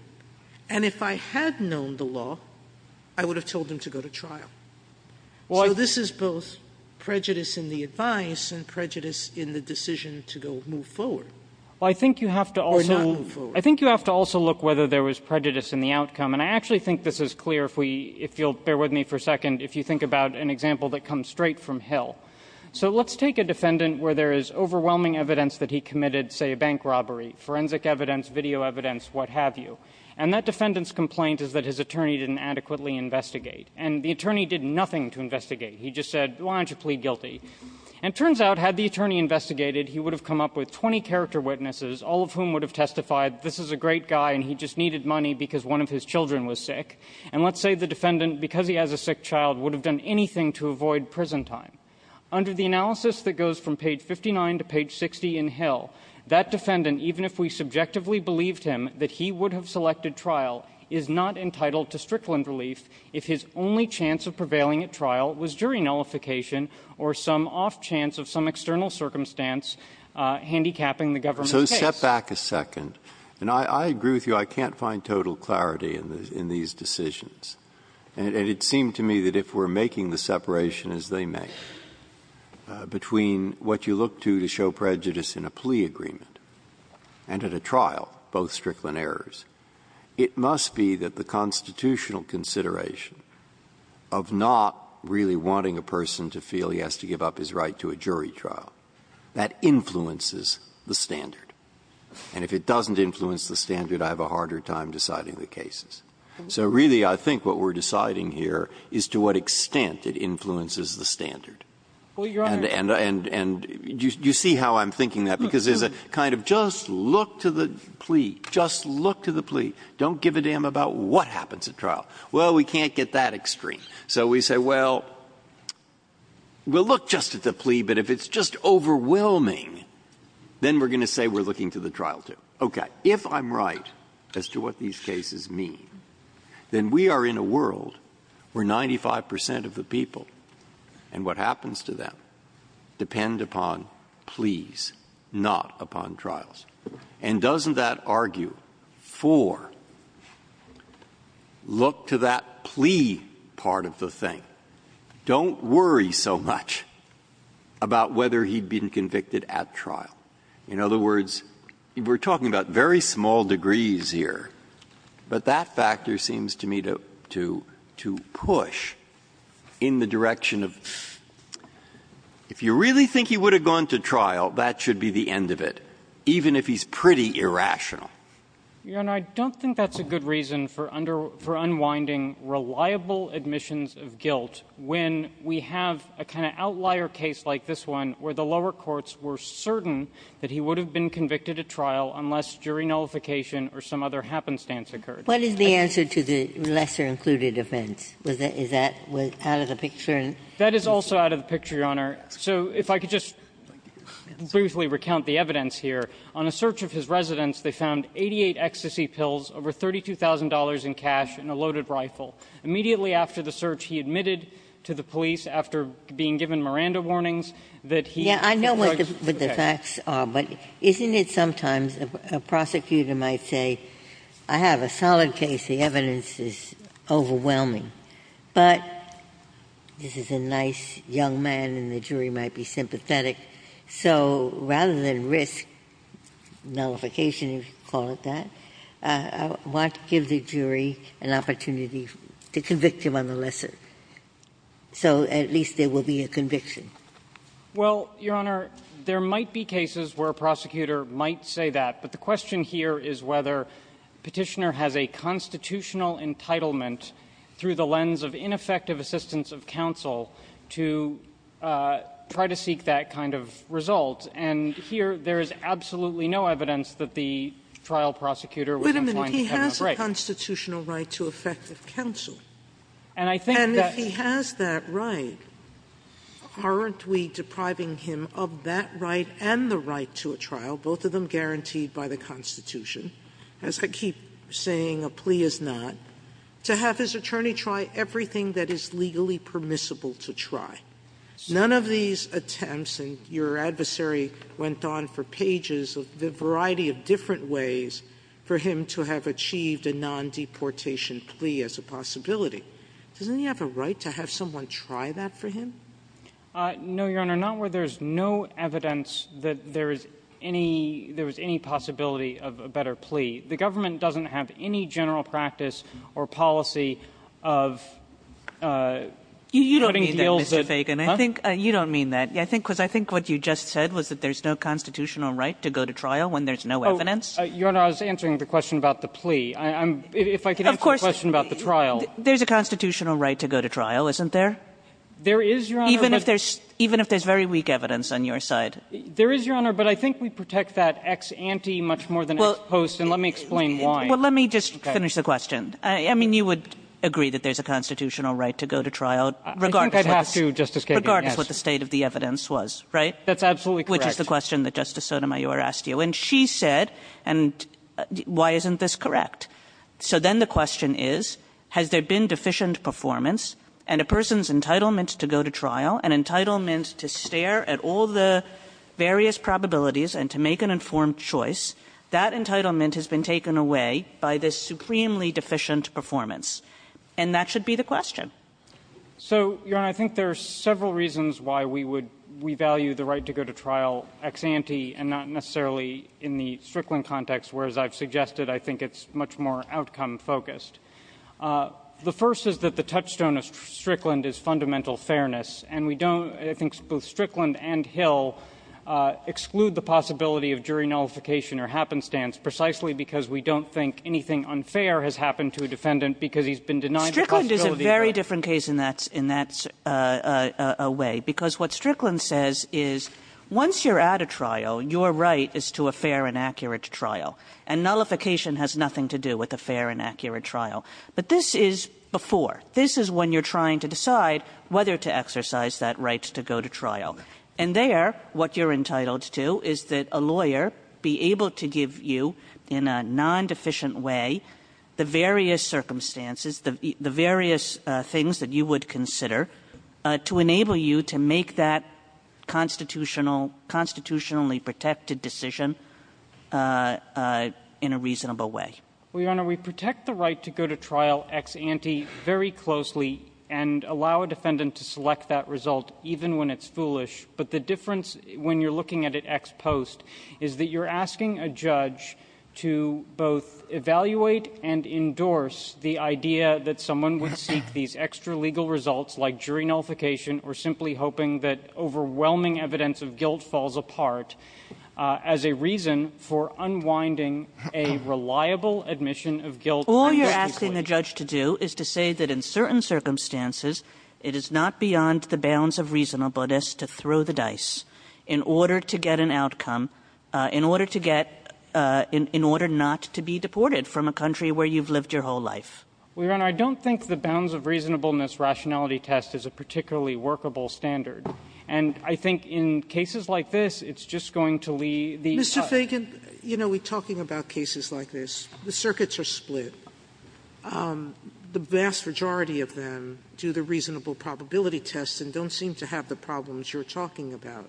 And if I had known the law, I would have told him to go to trial. So this is both prejudice in the advice and prejudice in the decision to go move forward. Well, I think you have to also look whether there was prejudice in the outcome. And I actually think this is clear, if you'll bear with me for a second, if you think about an example that comes straight from Hill. So let's take a defendant where there is overwhelming evidence that he committed, say, a bank robbery, forensic evidence, video evidence, what have you. And that defendant's complaint is that his attorney didn't adequately investigate. And the attorney did nothing to investigate. He just said, why don't you plead guilty? And it turns out, had the attorney investigated, he would have come up with 20 character witnesses, all of whom would have testified, this is a great guy, and he just needed money because one of his children was sick. And let's say the defendant, because he has a sick child, would have done anything to avoid prison time. Under the analysis that goes from page 59 to page 60 in Hill, that defendant, even if we subjectively believed him that he would have selected trial, is not entitled to Strickland relief if his only chance of prevailing at trial was jury nullification or some off chance of some external circumstance handicapping the government's case. So step back a second. And I agree with you, I can't find total clarity in these decisions. And it seemed to me that if we're making the separation as they make, between what you look to to show prejudice in a plea agreement and at a trial, both Strickland errors, it must be that the constitutional consideration of not really wanting a person to feel he has to give up his right to a jury trial, that influences the standard. And if it doesn't influence the standard, I have a harder time deciding the cases. So really, I think what we're deciding here is to what extent it influences the standard. And you see how I'm thinking that, because there's a kind of just look to the plea, just look to the plea, don't give a damn about what happens at trial. Well, we can't get that extreme. So we say, well, we'll look just at the plea, but if it's just overwhelming, then we're going to say we're looking to the trial, too. Okay. If I'm right as to what these cases mean, then we are in a world where 95 percent of the people and what happens to them depend upon pleas, not upon trials. And doesn't that argue for look to that plea part of the thing. Don't worry so much about whether he'd been convicted at trial. In other words, we're talking about very small degrees here, but that factor seems to me to push in the direction of if you really think he would have gone to trial, that should be the end of it, even if he's pretty irrational. Your Honor, I don't think that's a good reason for unwinding reliable admissions of guilt when we have a kind of outlier case like this one where the lower courts were certain that he would have been convicted at trial unless jury nullification or some other happenstance occurred. What is the answer to the lesser included offense? Is that out of the picture? That is also out of the picture, Your Honor. So if I could just briefly recount the evidence here. On a search of his residence, they found 88 ecstasy pills, over $32,000 in cash, and a loaded rifle. Immediately after the search, he admitted to the police, after being given Miranda warnings, that he— Yeah, I know what the facts are, but isn't it sometimes a prosecutor might say, I have a solid case. The evidence is overwhelming, but this is a nice young man, and the jury might be sympathetic. So rather than risk nullification, if you call it that, I want to give the jury an opportunity to convict him on the lesser. So at least there will be a conviction. Well, Your Honor, there might be cases where a prosecutor might say that, but the question here is whether Petitioner has a constitutional entitlement through the lens of ineffective assistance of counsel to try to seek that kind of result. And here there is absolutely no evidence that the trial prosecutor was inclined to have no right. Wait a minute. He has a constitutional right to effective counsel. And I think that— And if he has that right, aren't we depriving him of that right and the right to a trial, both of them guaranteed by the Constitution? As I keep saying, a plea is not, to have his attorney try everything that is legally permissible to try. None of these attempts, and your adversary went on for pages of a variety of different ways, for him to have achieved a non-deportation plea as a possibility. Doesn't he have a right to have someone try that for him? No, Your Honor, not where there is no evidence that there is any – there was any possibility of a better plea. The government doesn't have any general practice or policy of putting deals at— You don't mean that, Mr. Fagan. I think – you don't mean that. I think what you just said was that there is no constitutional right to go to trial when there is no evidence. Your Honor, I was answering the question about the plea. I'm – if I could answer the question about the trial. There's a constitutional right to go to trial, isn't there? There is, Your Honor, but— Even if there's – even if there's very weak evidence on your side. There is, Your Honor, but I think we protect that ex ante much more than ex post, and let me explain why. Well, let me just finish the question. I mean, you would agree that there's a constitutional right to go to trial, regardless of what the— I think I'd have to, Justice Kagan, yes. Regardless of what the state of the evidence was, right? That's absolutely correct. Which is the question that Justice Sotomayor asked you. And she said, and why isn't this correct? So then the question is, has there been deficient performance, and a person's entitlement to go to trial, an entitlement to stare at all the various probabilities and to make an informed choice, that entitlement has been taken away by this supremely deficient performance. And that should be the question. So, Your Honor, I think there are several reasons why we would – we value the right to go to trial ex ante and not necessarily in the Strickland context, whereas I've suggested I think it's much more outcome focused. The first is that the touchstone of Strickland is fundamental fairness. And we don't – I think both Strickland and Hill exclude the possibility of jury nullification or happenstance, precisely because we don't think anything unfair has happened to a defendant because he's been denied the possibility of fairness. Strickland is a very different case in that – in that way. Because what Strickland says is, once you're at a trial, your right is to a fair and accurate trial. And nullification has nothing to do with a fair and accurate trial. But this is before. This is when you're trying to decide whether to exercise that right to go to trial. And there, what you're entitled to is that a lawyer be able to give you, in a non-deficient way, the various circumstances, the various things that you would consider, to enable you to make that constitutional – constitutionally protected decision in a reasonable way. Well, Your Honor, we protect the right to go to trial ex ante very closely and allow a defendant to select that result, even when it's foolish. But the difference, when you're looking at it ex post, is that you're asking a judge to both evaluate and endorse the idea that someone would seek these extra-legal results, like jury nullification, or simply hoping that overwhelming evidence of guilt falls apart, as a reason for unwinding a reliable admission of guilt. All you're asking a judge to do is to say that in certain circumstances, it is not beyond the bounds of reasonableness to throw the dice in order to get an outcome, in order to get – in order not to be deported from a country where you've lived your whole life. Well, Your Honor, I don't think the bounds of reasonableness rationality test is a particularly workable standard. And I think in cases like this, it's just going to leave the – Mr. Feigin, you know, we're talking about cases like this. The circuits are split. The vast majority of them do the reasonable probability tests and don't seem to have the problems you're talking about.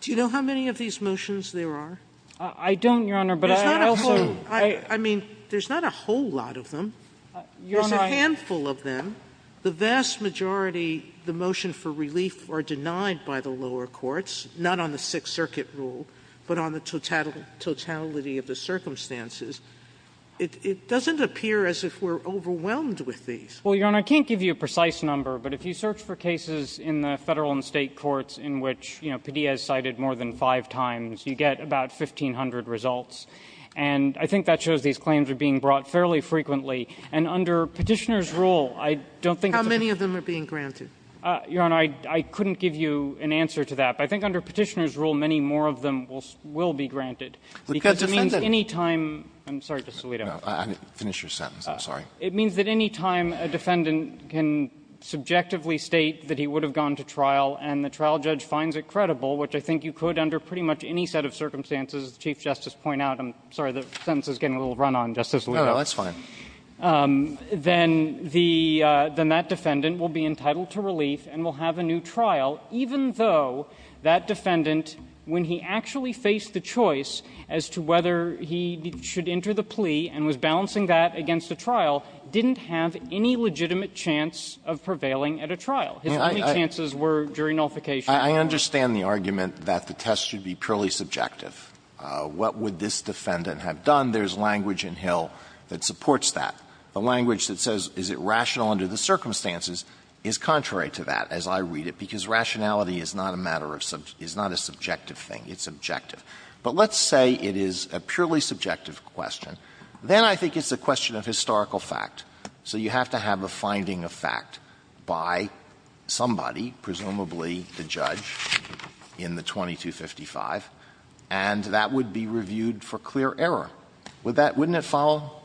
Do you know how many of these motions there are? I don't, Your Honor, but I also – There's not a – I mean, there's not a whole lot of them. Your Honor, I – There's a handful of them. The vast majority, the motion for relief are denied by the lower courts, not on the Sixth Circuit rule, but on the totality of the circumstances. It doesn't appear as if we're overwhelmed with these. Well, Your Honor, I can't give you a precise number, but if you search for cases in the Federal and State courts in which, you know, Padilla has cited more than five times, you get about 1,500 results. And I think that shows these claims are being brought fairly frequently. And under Petitioner's rule, I don't think it's a – How many of them are being granted? Your Honor, I couldn't give you an answer to that. But I think under Petitioner's rule, many more of them will be granted. Because it means any time – I'm sorry, Justice Alito. No, finish your sentence. I'm sorry. It means that any time a defendant can subjectively state that he would have gone to trial and the trial judge finds it credible, which I think you could under pretty much any set of circumstances, as the Chief Justice pointed out. I'm sorry. The sentence is getting a little run on, Justice Alito. No, that's fine. Then the – then that defendant will be entitled to relief and will have a new trial, even though that defendant, when he actually faced the choice as to whether he should enter the plea and was balancing that against a trial, didn't have any legitimate chance of prevailing at a trial. His only chances were during nullification. I understand the argument that the test should be purely subjective. What would this defendant have done? There's language in Hill that supports that. The language that says, is it rational under the circumstances, is contrary to that, as I read it, because rationality is not a matter of – is not a subjective thing. It's objective. But let's say it is a purely subjective question. Then I think it's a question of historical fact. So you have to have a finding of fact by somebody, presumably the judge, in the 2255. And that would be reviewed for clear error. Would that – wouldn't it follow?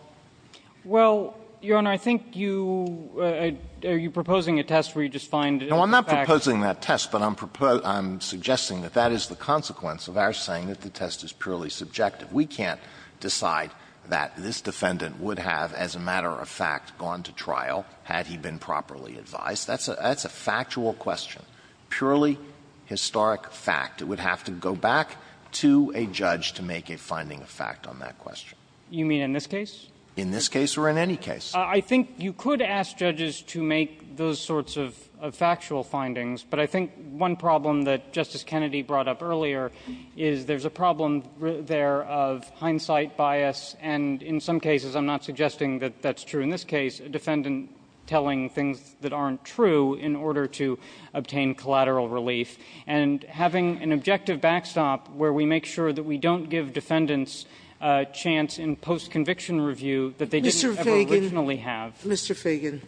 Well, Your Honor, I think you – are you proposing a test where you just find a fact? No, I'm not proposing that test. But I'm suggesting that that is the consequence of our saying that the test is purely subjective. We can't decide that this defendant would have, as a matter of fact, gone to trial had he been properly advised. That's a – that's a factual question, purely historic fact. It would have to go back to a judge to make a finding of fact on that question. You mean in this case? In this case or in any case. I think you could ask judges to make those sorts of factual findings. But I think one problem that Justice Kennedy brought up earlier is there's a problem there of hindsight bias, and in some cases, I'm not suggesting that that's true. In this case, a defendant telling things that aren't true in order to obtain collateral relief, and having an objective backstop where we make sure that we don't give defendants a chance in post-conviction review that they didn't ever originally have. Mr. Feigin,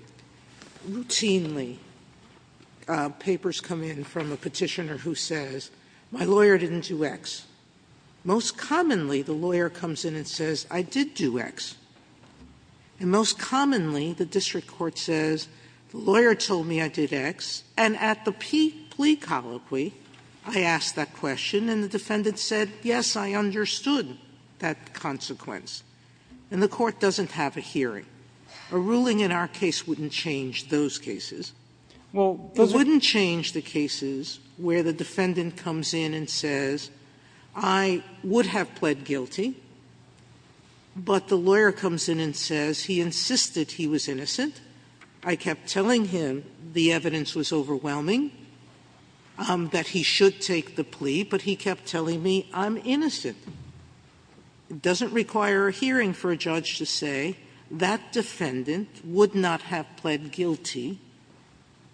routinely, papers come in from a Petitioner who says, my lawyer didn't do X. Most commonly, the lawyer comes in and says, I did do X. And most commonly, the district court says, the lawyer told me I did X, and at the plea colloquy, I asked that question, and the defendant said, yes, I understood that consequence. And the court doesn't have a hearing. A ruling in our case wouldn't change those cases. It wouldn't change the cases where the defendant comes in and says, I would have pled guilty, but the lawyer comes in and says, he insisted he was innocent. I kept telling him the evidence was overwhelming, that he should take the plea, but he kept telling me, I'm innocent. It doesn't require a hearing for a judge to say, that defendant would not have pled guilty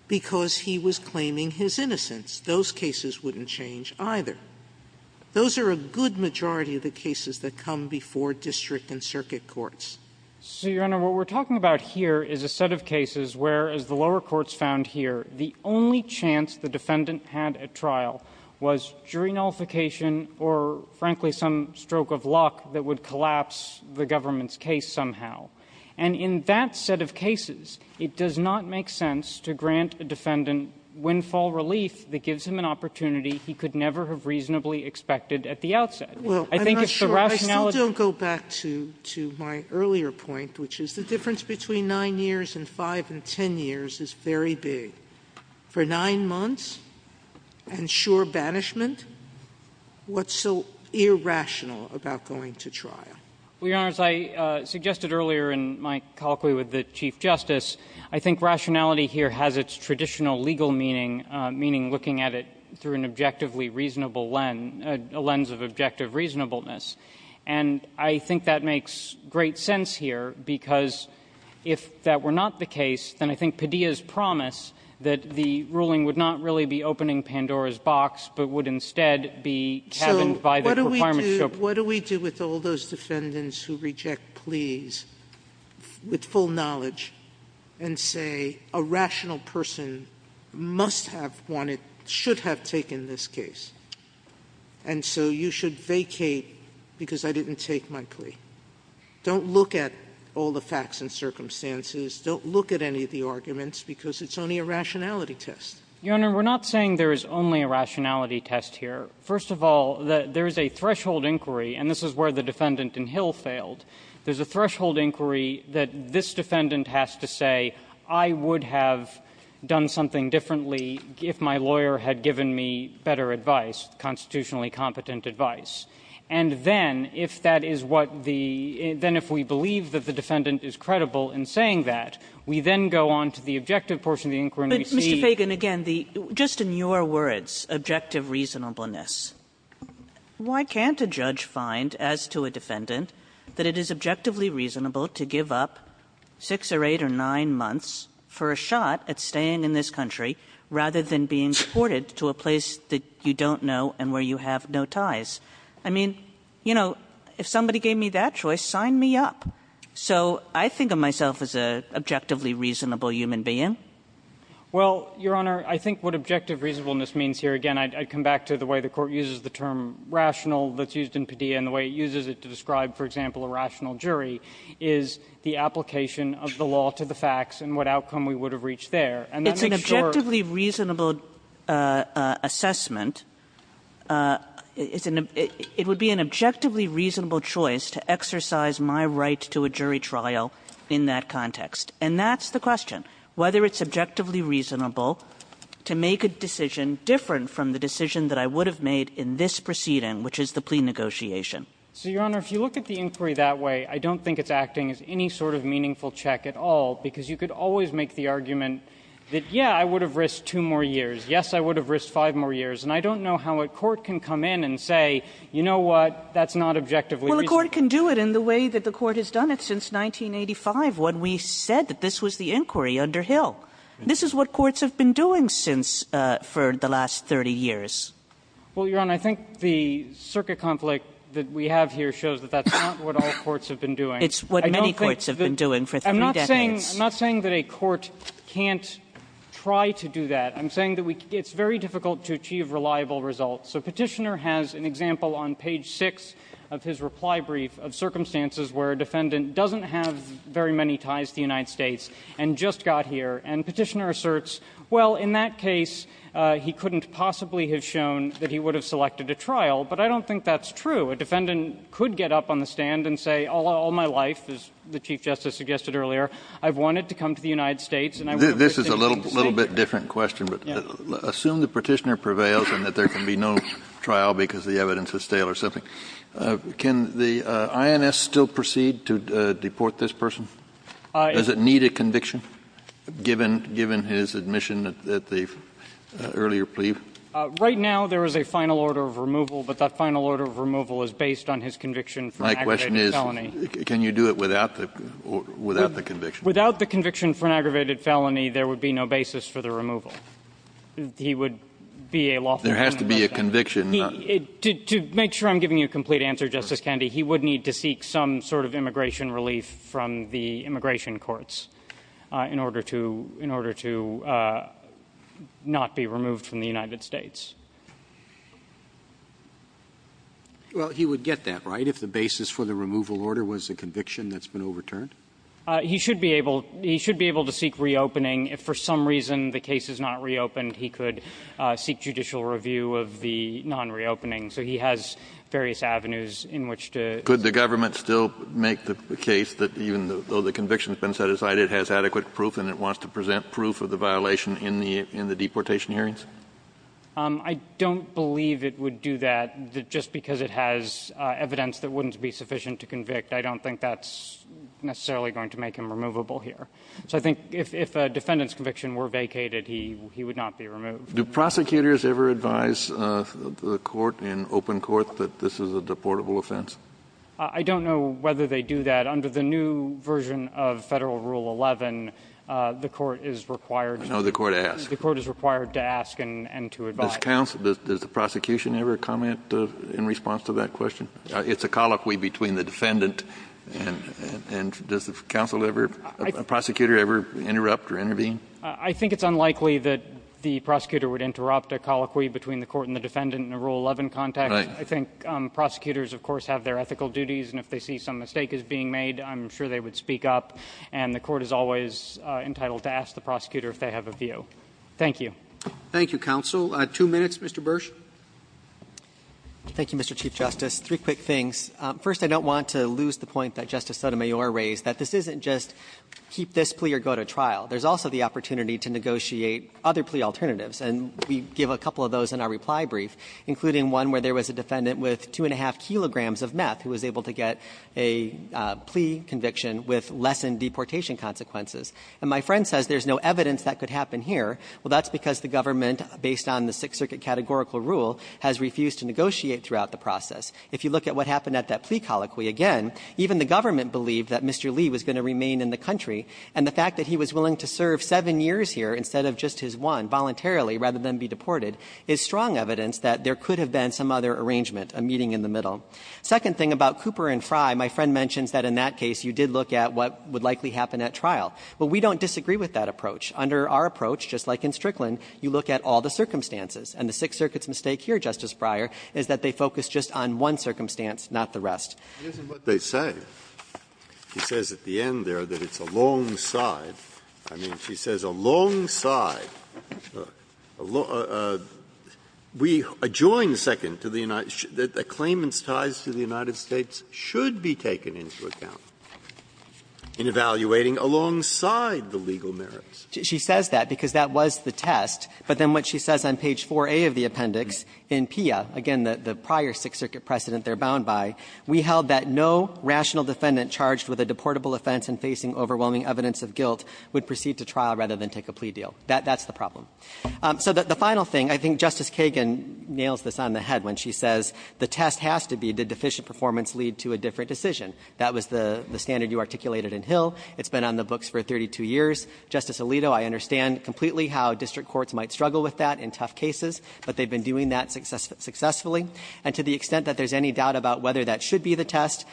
because he was claiming his innocence. Those cases wouldn't change either. Those are a good majority of the cases that come before district and circuit courts. Feigin. So, Your Honor, what we're talking about here is a set of cases where, as the lower courts found here, the only chance the defendant had at trial was jury nullification or, frankly, some stroke of luck that would collapse the government's case somehow. And in that set of cases, it does not make sense to grant a defendant windfall relief that gives him an opportunity he could never have reasonably expected at the outset. I think if the rationality of the courts were to say, well, I'm not sure, I still don't go back to my earlier point, which is the difference between 9 years and 5 and 10 years is very big. For 9 months and sure banishment, what's so irrational about going to trial? Well, Your Honor, as I suggested earlier in my colloquy with the Chief Justice, I think rationality here has its traditional legal meaning, meaning looking at it through an objectively reasonable lens, a lens of objective reasonableness. And I think that makes great sense here because if that were not the case, then I think Padilla's promise that the ruling would not really be opening Pandora's box, but would instead be chavined by the requirement to show proof. But what do we do with all those defendants who reject pleas with full knowledge and say a rational person must have wanted, should have taken this case? And so you should vacate because I didn't take my plea. Don't look at all the facts and circumstances. Don't look at any of the arguments because it's only a rationality test. Your Honor, we're not saying there is only a rationality test here. First of all, there is a threshold inquiry, and this is where the defendant in Hill failed. There's a threshold inquiry that this defendant has to say, I would have done something differently if my lawyer had given me better advice, constitutionally competent advice. And then, if that is what the – then if we believe that the defendant is credible in saying that, we then go on to the objective portion of the inquiry and we see Mr. Fagan, again, just in your words, objective reasonableness, why can't a judge find, as to a defendant, that it is objectively reasonable to give up six or eight or nine months for a shot at staying in this country rather than being deported to a place that you don't know and where you have no ties? I mean, you know, if somebody gave me that choice, sign me up. So I think of myself as an objectively reasonable human being. Well, Your Honor, I think what objective reasonableness means here, again, I'd come back to the way the Court uses the term rational that's used in Padilla and the way it uses it to describe, for example, a rational jury, is the application of the law to the facts and what outcome we would have reached there. And that makes sure – It's an objectively reasonable assessment. It's an – it would be an objectively reasonable choice to exercise my right to a jury trial in that context. And that's the question. Whether it's objectively reasonable to make a decision different from the decision that I would have made in this proceeding, which is the plea negotiation. So, Your Honor, if you look at the inquiry that way, I don't think it's acting as any sort of meaningful check at all because you could always make the argument that, yeah, I would have risked two more years. Yes, I would have risked five more years. And I don't know how a court can come in and say, you know what, that's not objectively reasonable. Well, a court can do it in the way that the Court has done it since 1985 when we said that this was the inquiry under Hill. This is what courts have been doing since – for the last 30 years. Well, Your Honor, I think the circuit conflict that we have here shows that that's not what all courts have been doing. It's what many courts have been doing for three decades. I'm not saying that a court can't try to do that. I'm saying that we – it's very difficult to achieve reliable results. So Petitioner has an example on page 6 of his reply brief of circumstances where a defendant doesn't have very many ties to the United States and just got here. And Petitioner asserts, well, in that case, he couldn't possibly have shown that he would have selected a trial. But I don't think that's true. A defendant could get up on the stand and say, all my life, as the Chief Justice suggested earlier, I've wanted to come to the United States and I would have risked anything to stay here. Kennedy. This is a little bit different question, but assume the Petitioner prevails and that there can be no trial because the evidence is stale or something. Can the INS still proceed to deport this person? Does it need a conviction, given his admission at the earlier plea? Right now, there is a final order of removal, but that final order of removal is based on his conviction for an aggravated felony. My question is, can you do it without the conviction? Without the conviction for an aggravated felony, there would be no basis for the removal. He would be a lawful defendant. There has to be a conviction. To make sure I'm giving you a complete answer, Justice Kennedy, he would need to seek some sort of immigration relief from the immigration courts in order to not be removed from the United States. Well, he would get that, right, if the basis for the removal order was a conviction that's been overturned? He should be able to seek reopening. If for some reason the case is not reopened, he could seek judicial review of the case on reopening. So he has various avenues in which to do that. Could the government still make the case that even though the conviction has been set aside, it has adequate proof, and it wants to present proof of the violation in the deportation hearings? I don't believe it would do that just because it has evidence that wouldn't be sufficient to convict. I don't think that's necessarily going to make him removable here. Do prosecutors ever advise the court in open court that this is a deportable offense? I don't know whether they do that. Under the new version of Federal Rule 11, the court is required to ask. I know the court asked. The court is required to ask and to advise. Does the prosecution ever comment in response to that question? It's a colloquy between the defendant and does the counsel ever, prosecutor ever interrupt or intervene? I think it's unlikely that the prosecutor would interrupt a colloquy between the court and the defendant in a Rule 11 context. I think prosecutors, of course, have their ethical duties, and if they see some mistake is being made, I'm sure they would speak up. And the court is always entitled to ask the prosecutor if they have a view. Thank you. Thank you, counsel. Two minutes, Mr. Bursch. Thank you, Mr. Chief Justice. Three quick things. First, I don't want to lose the point that Justice Sotomayor raised, that this isn't just keep this plea or go to trial. There's also the opportunity to negotiate other plea alternatives, and we give a couple of those in our reply brief, including one where there was a defendant with two and a half kilograms of meth who was able to get a plea conviction with lessened deportation consequences. And my friend says there's no evidence that could happen here. Well, that's because the government, based on the Sixth Circuit categorical rule, has refused to negotiate throughout the process. If you look at what happened at that plea colloquy again, even the government believed that Mr. Lee was going to remain in the country, and the fact that he was willing to serve seven years here instead of just his one voluntarily, rather than be deported, is strong evidence that there could have been some other arrangement, a meeting in the middle. Second thing about Cooper and Frye, my friend mentions that in that case you did look at what would likely happen at trial. Well, we don't disagree with that approach. Under our approach, just like in Strickland, you look at all the circumstances. And the Sixth Circuit's mistake here, Justice Breyer, is that they focus just on one circumstance, not the rest. Breyer, in what they say, he says at the end there that it's alongside. I mean, she says alongside. We adjoin, second, to the United States that the claimant's ties to the United States should be taken into account in evaluating alongside the legal merits. She says that because that was the test. But then what she says on page 4a of the appendix in PIA, again, the prior Sixth Circuit precedent they're bound by, we held that no rational defendant charged with a deportable offense and facing overwhelming evidence of guilt would proceed to trial rather than take a plea deal. That's the problem. So the final thing, I think Justice Kagan nails this on the head when she says the test has to be did deficient performance lead to a different decision. That was the standard you articulated in Hill. It's been on the books for 32 years. Justice Alito, I understand completely how district courts might struggle with that in tough cases, but they've been doing that successfully. And to the extent that there's any doubt about whether that should be the test,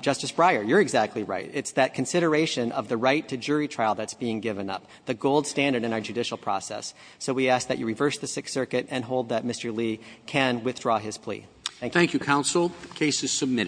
Justice Breyer, you're exactly right. It's that consideration of the right to jury trial that's being given up, the gold standard in our judicial process. So we ask that you reverse the Sixth Circuit and hold that Mr. Lee can withdraw his plea. Thank you. Roberts.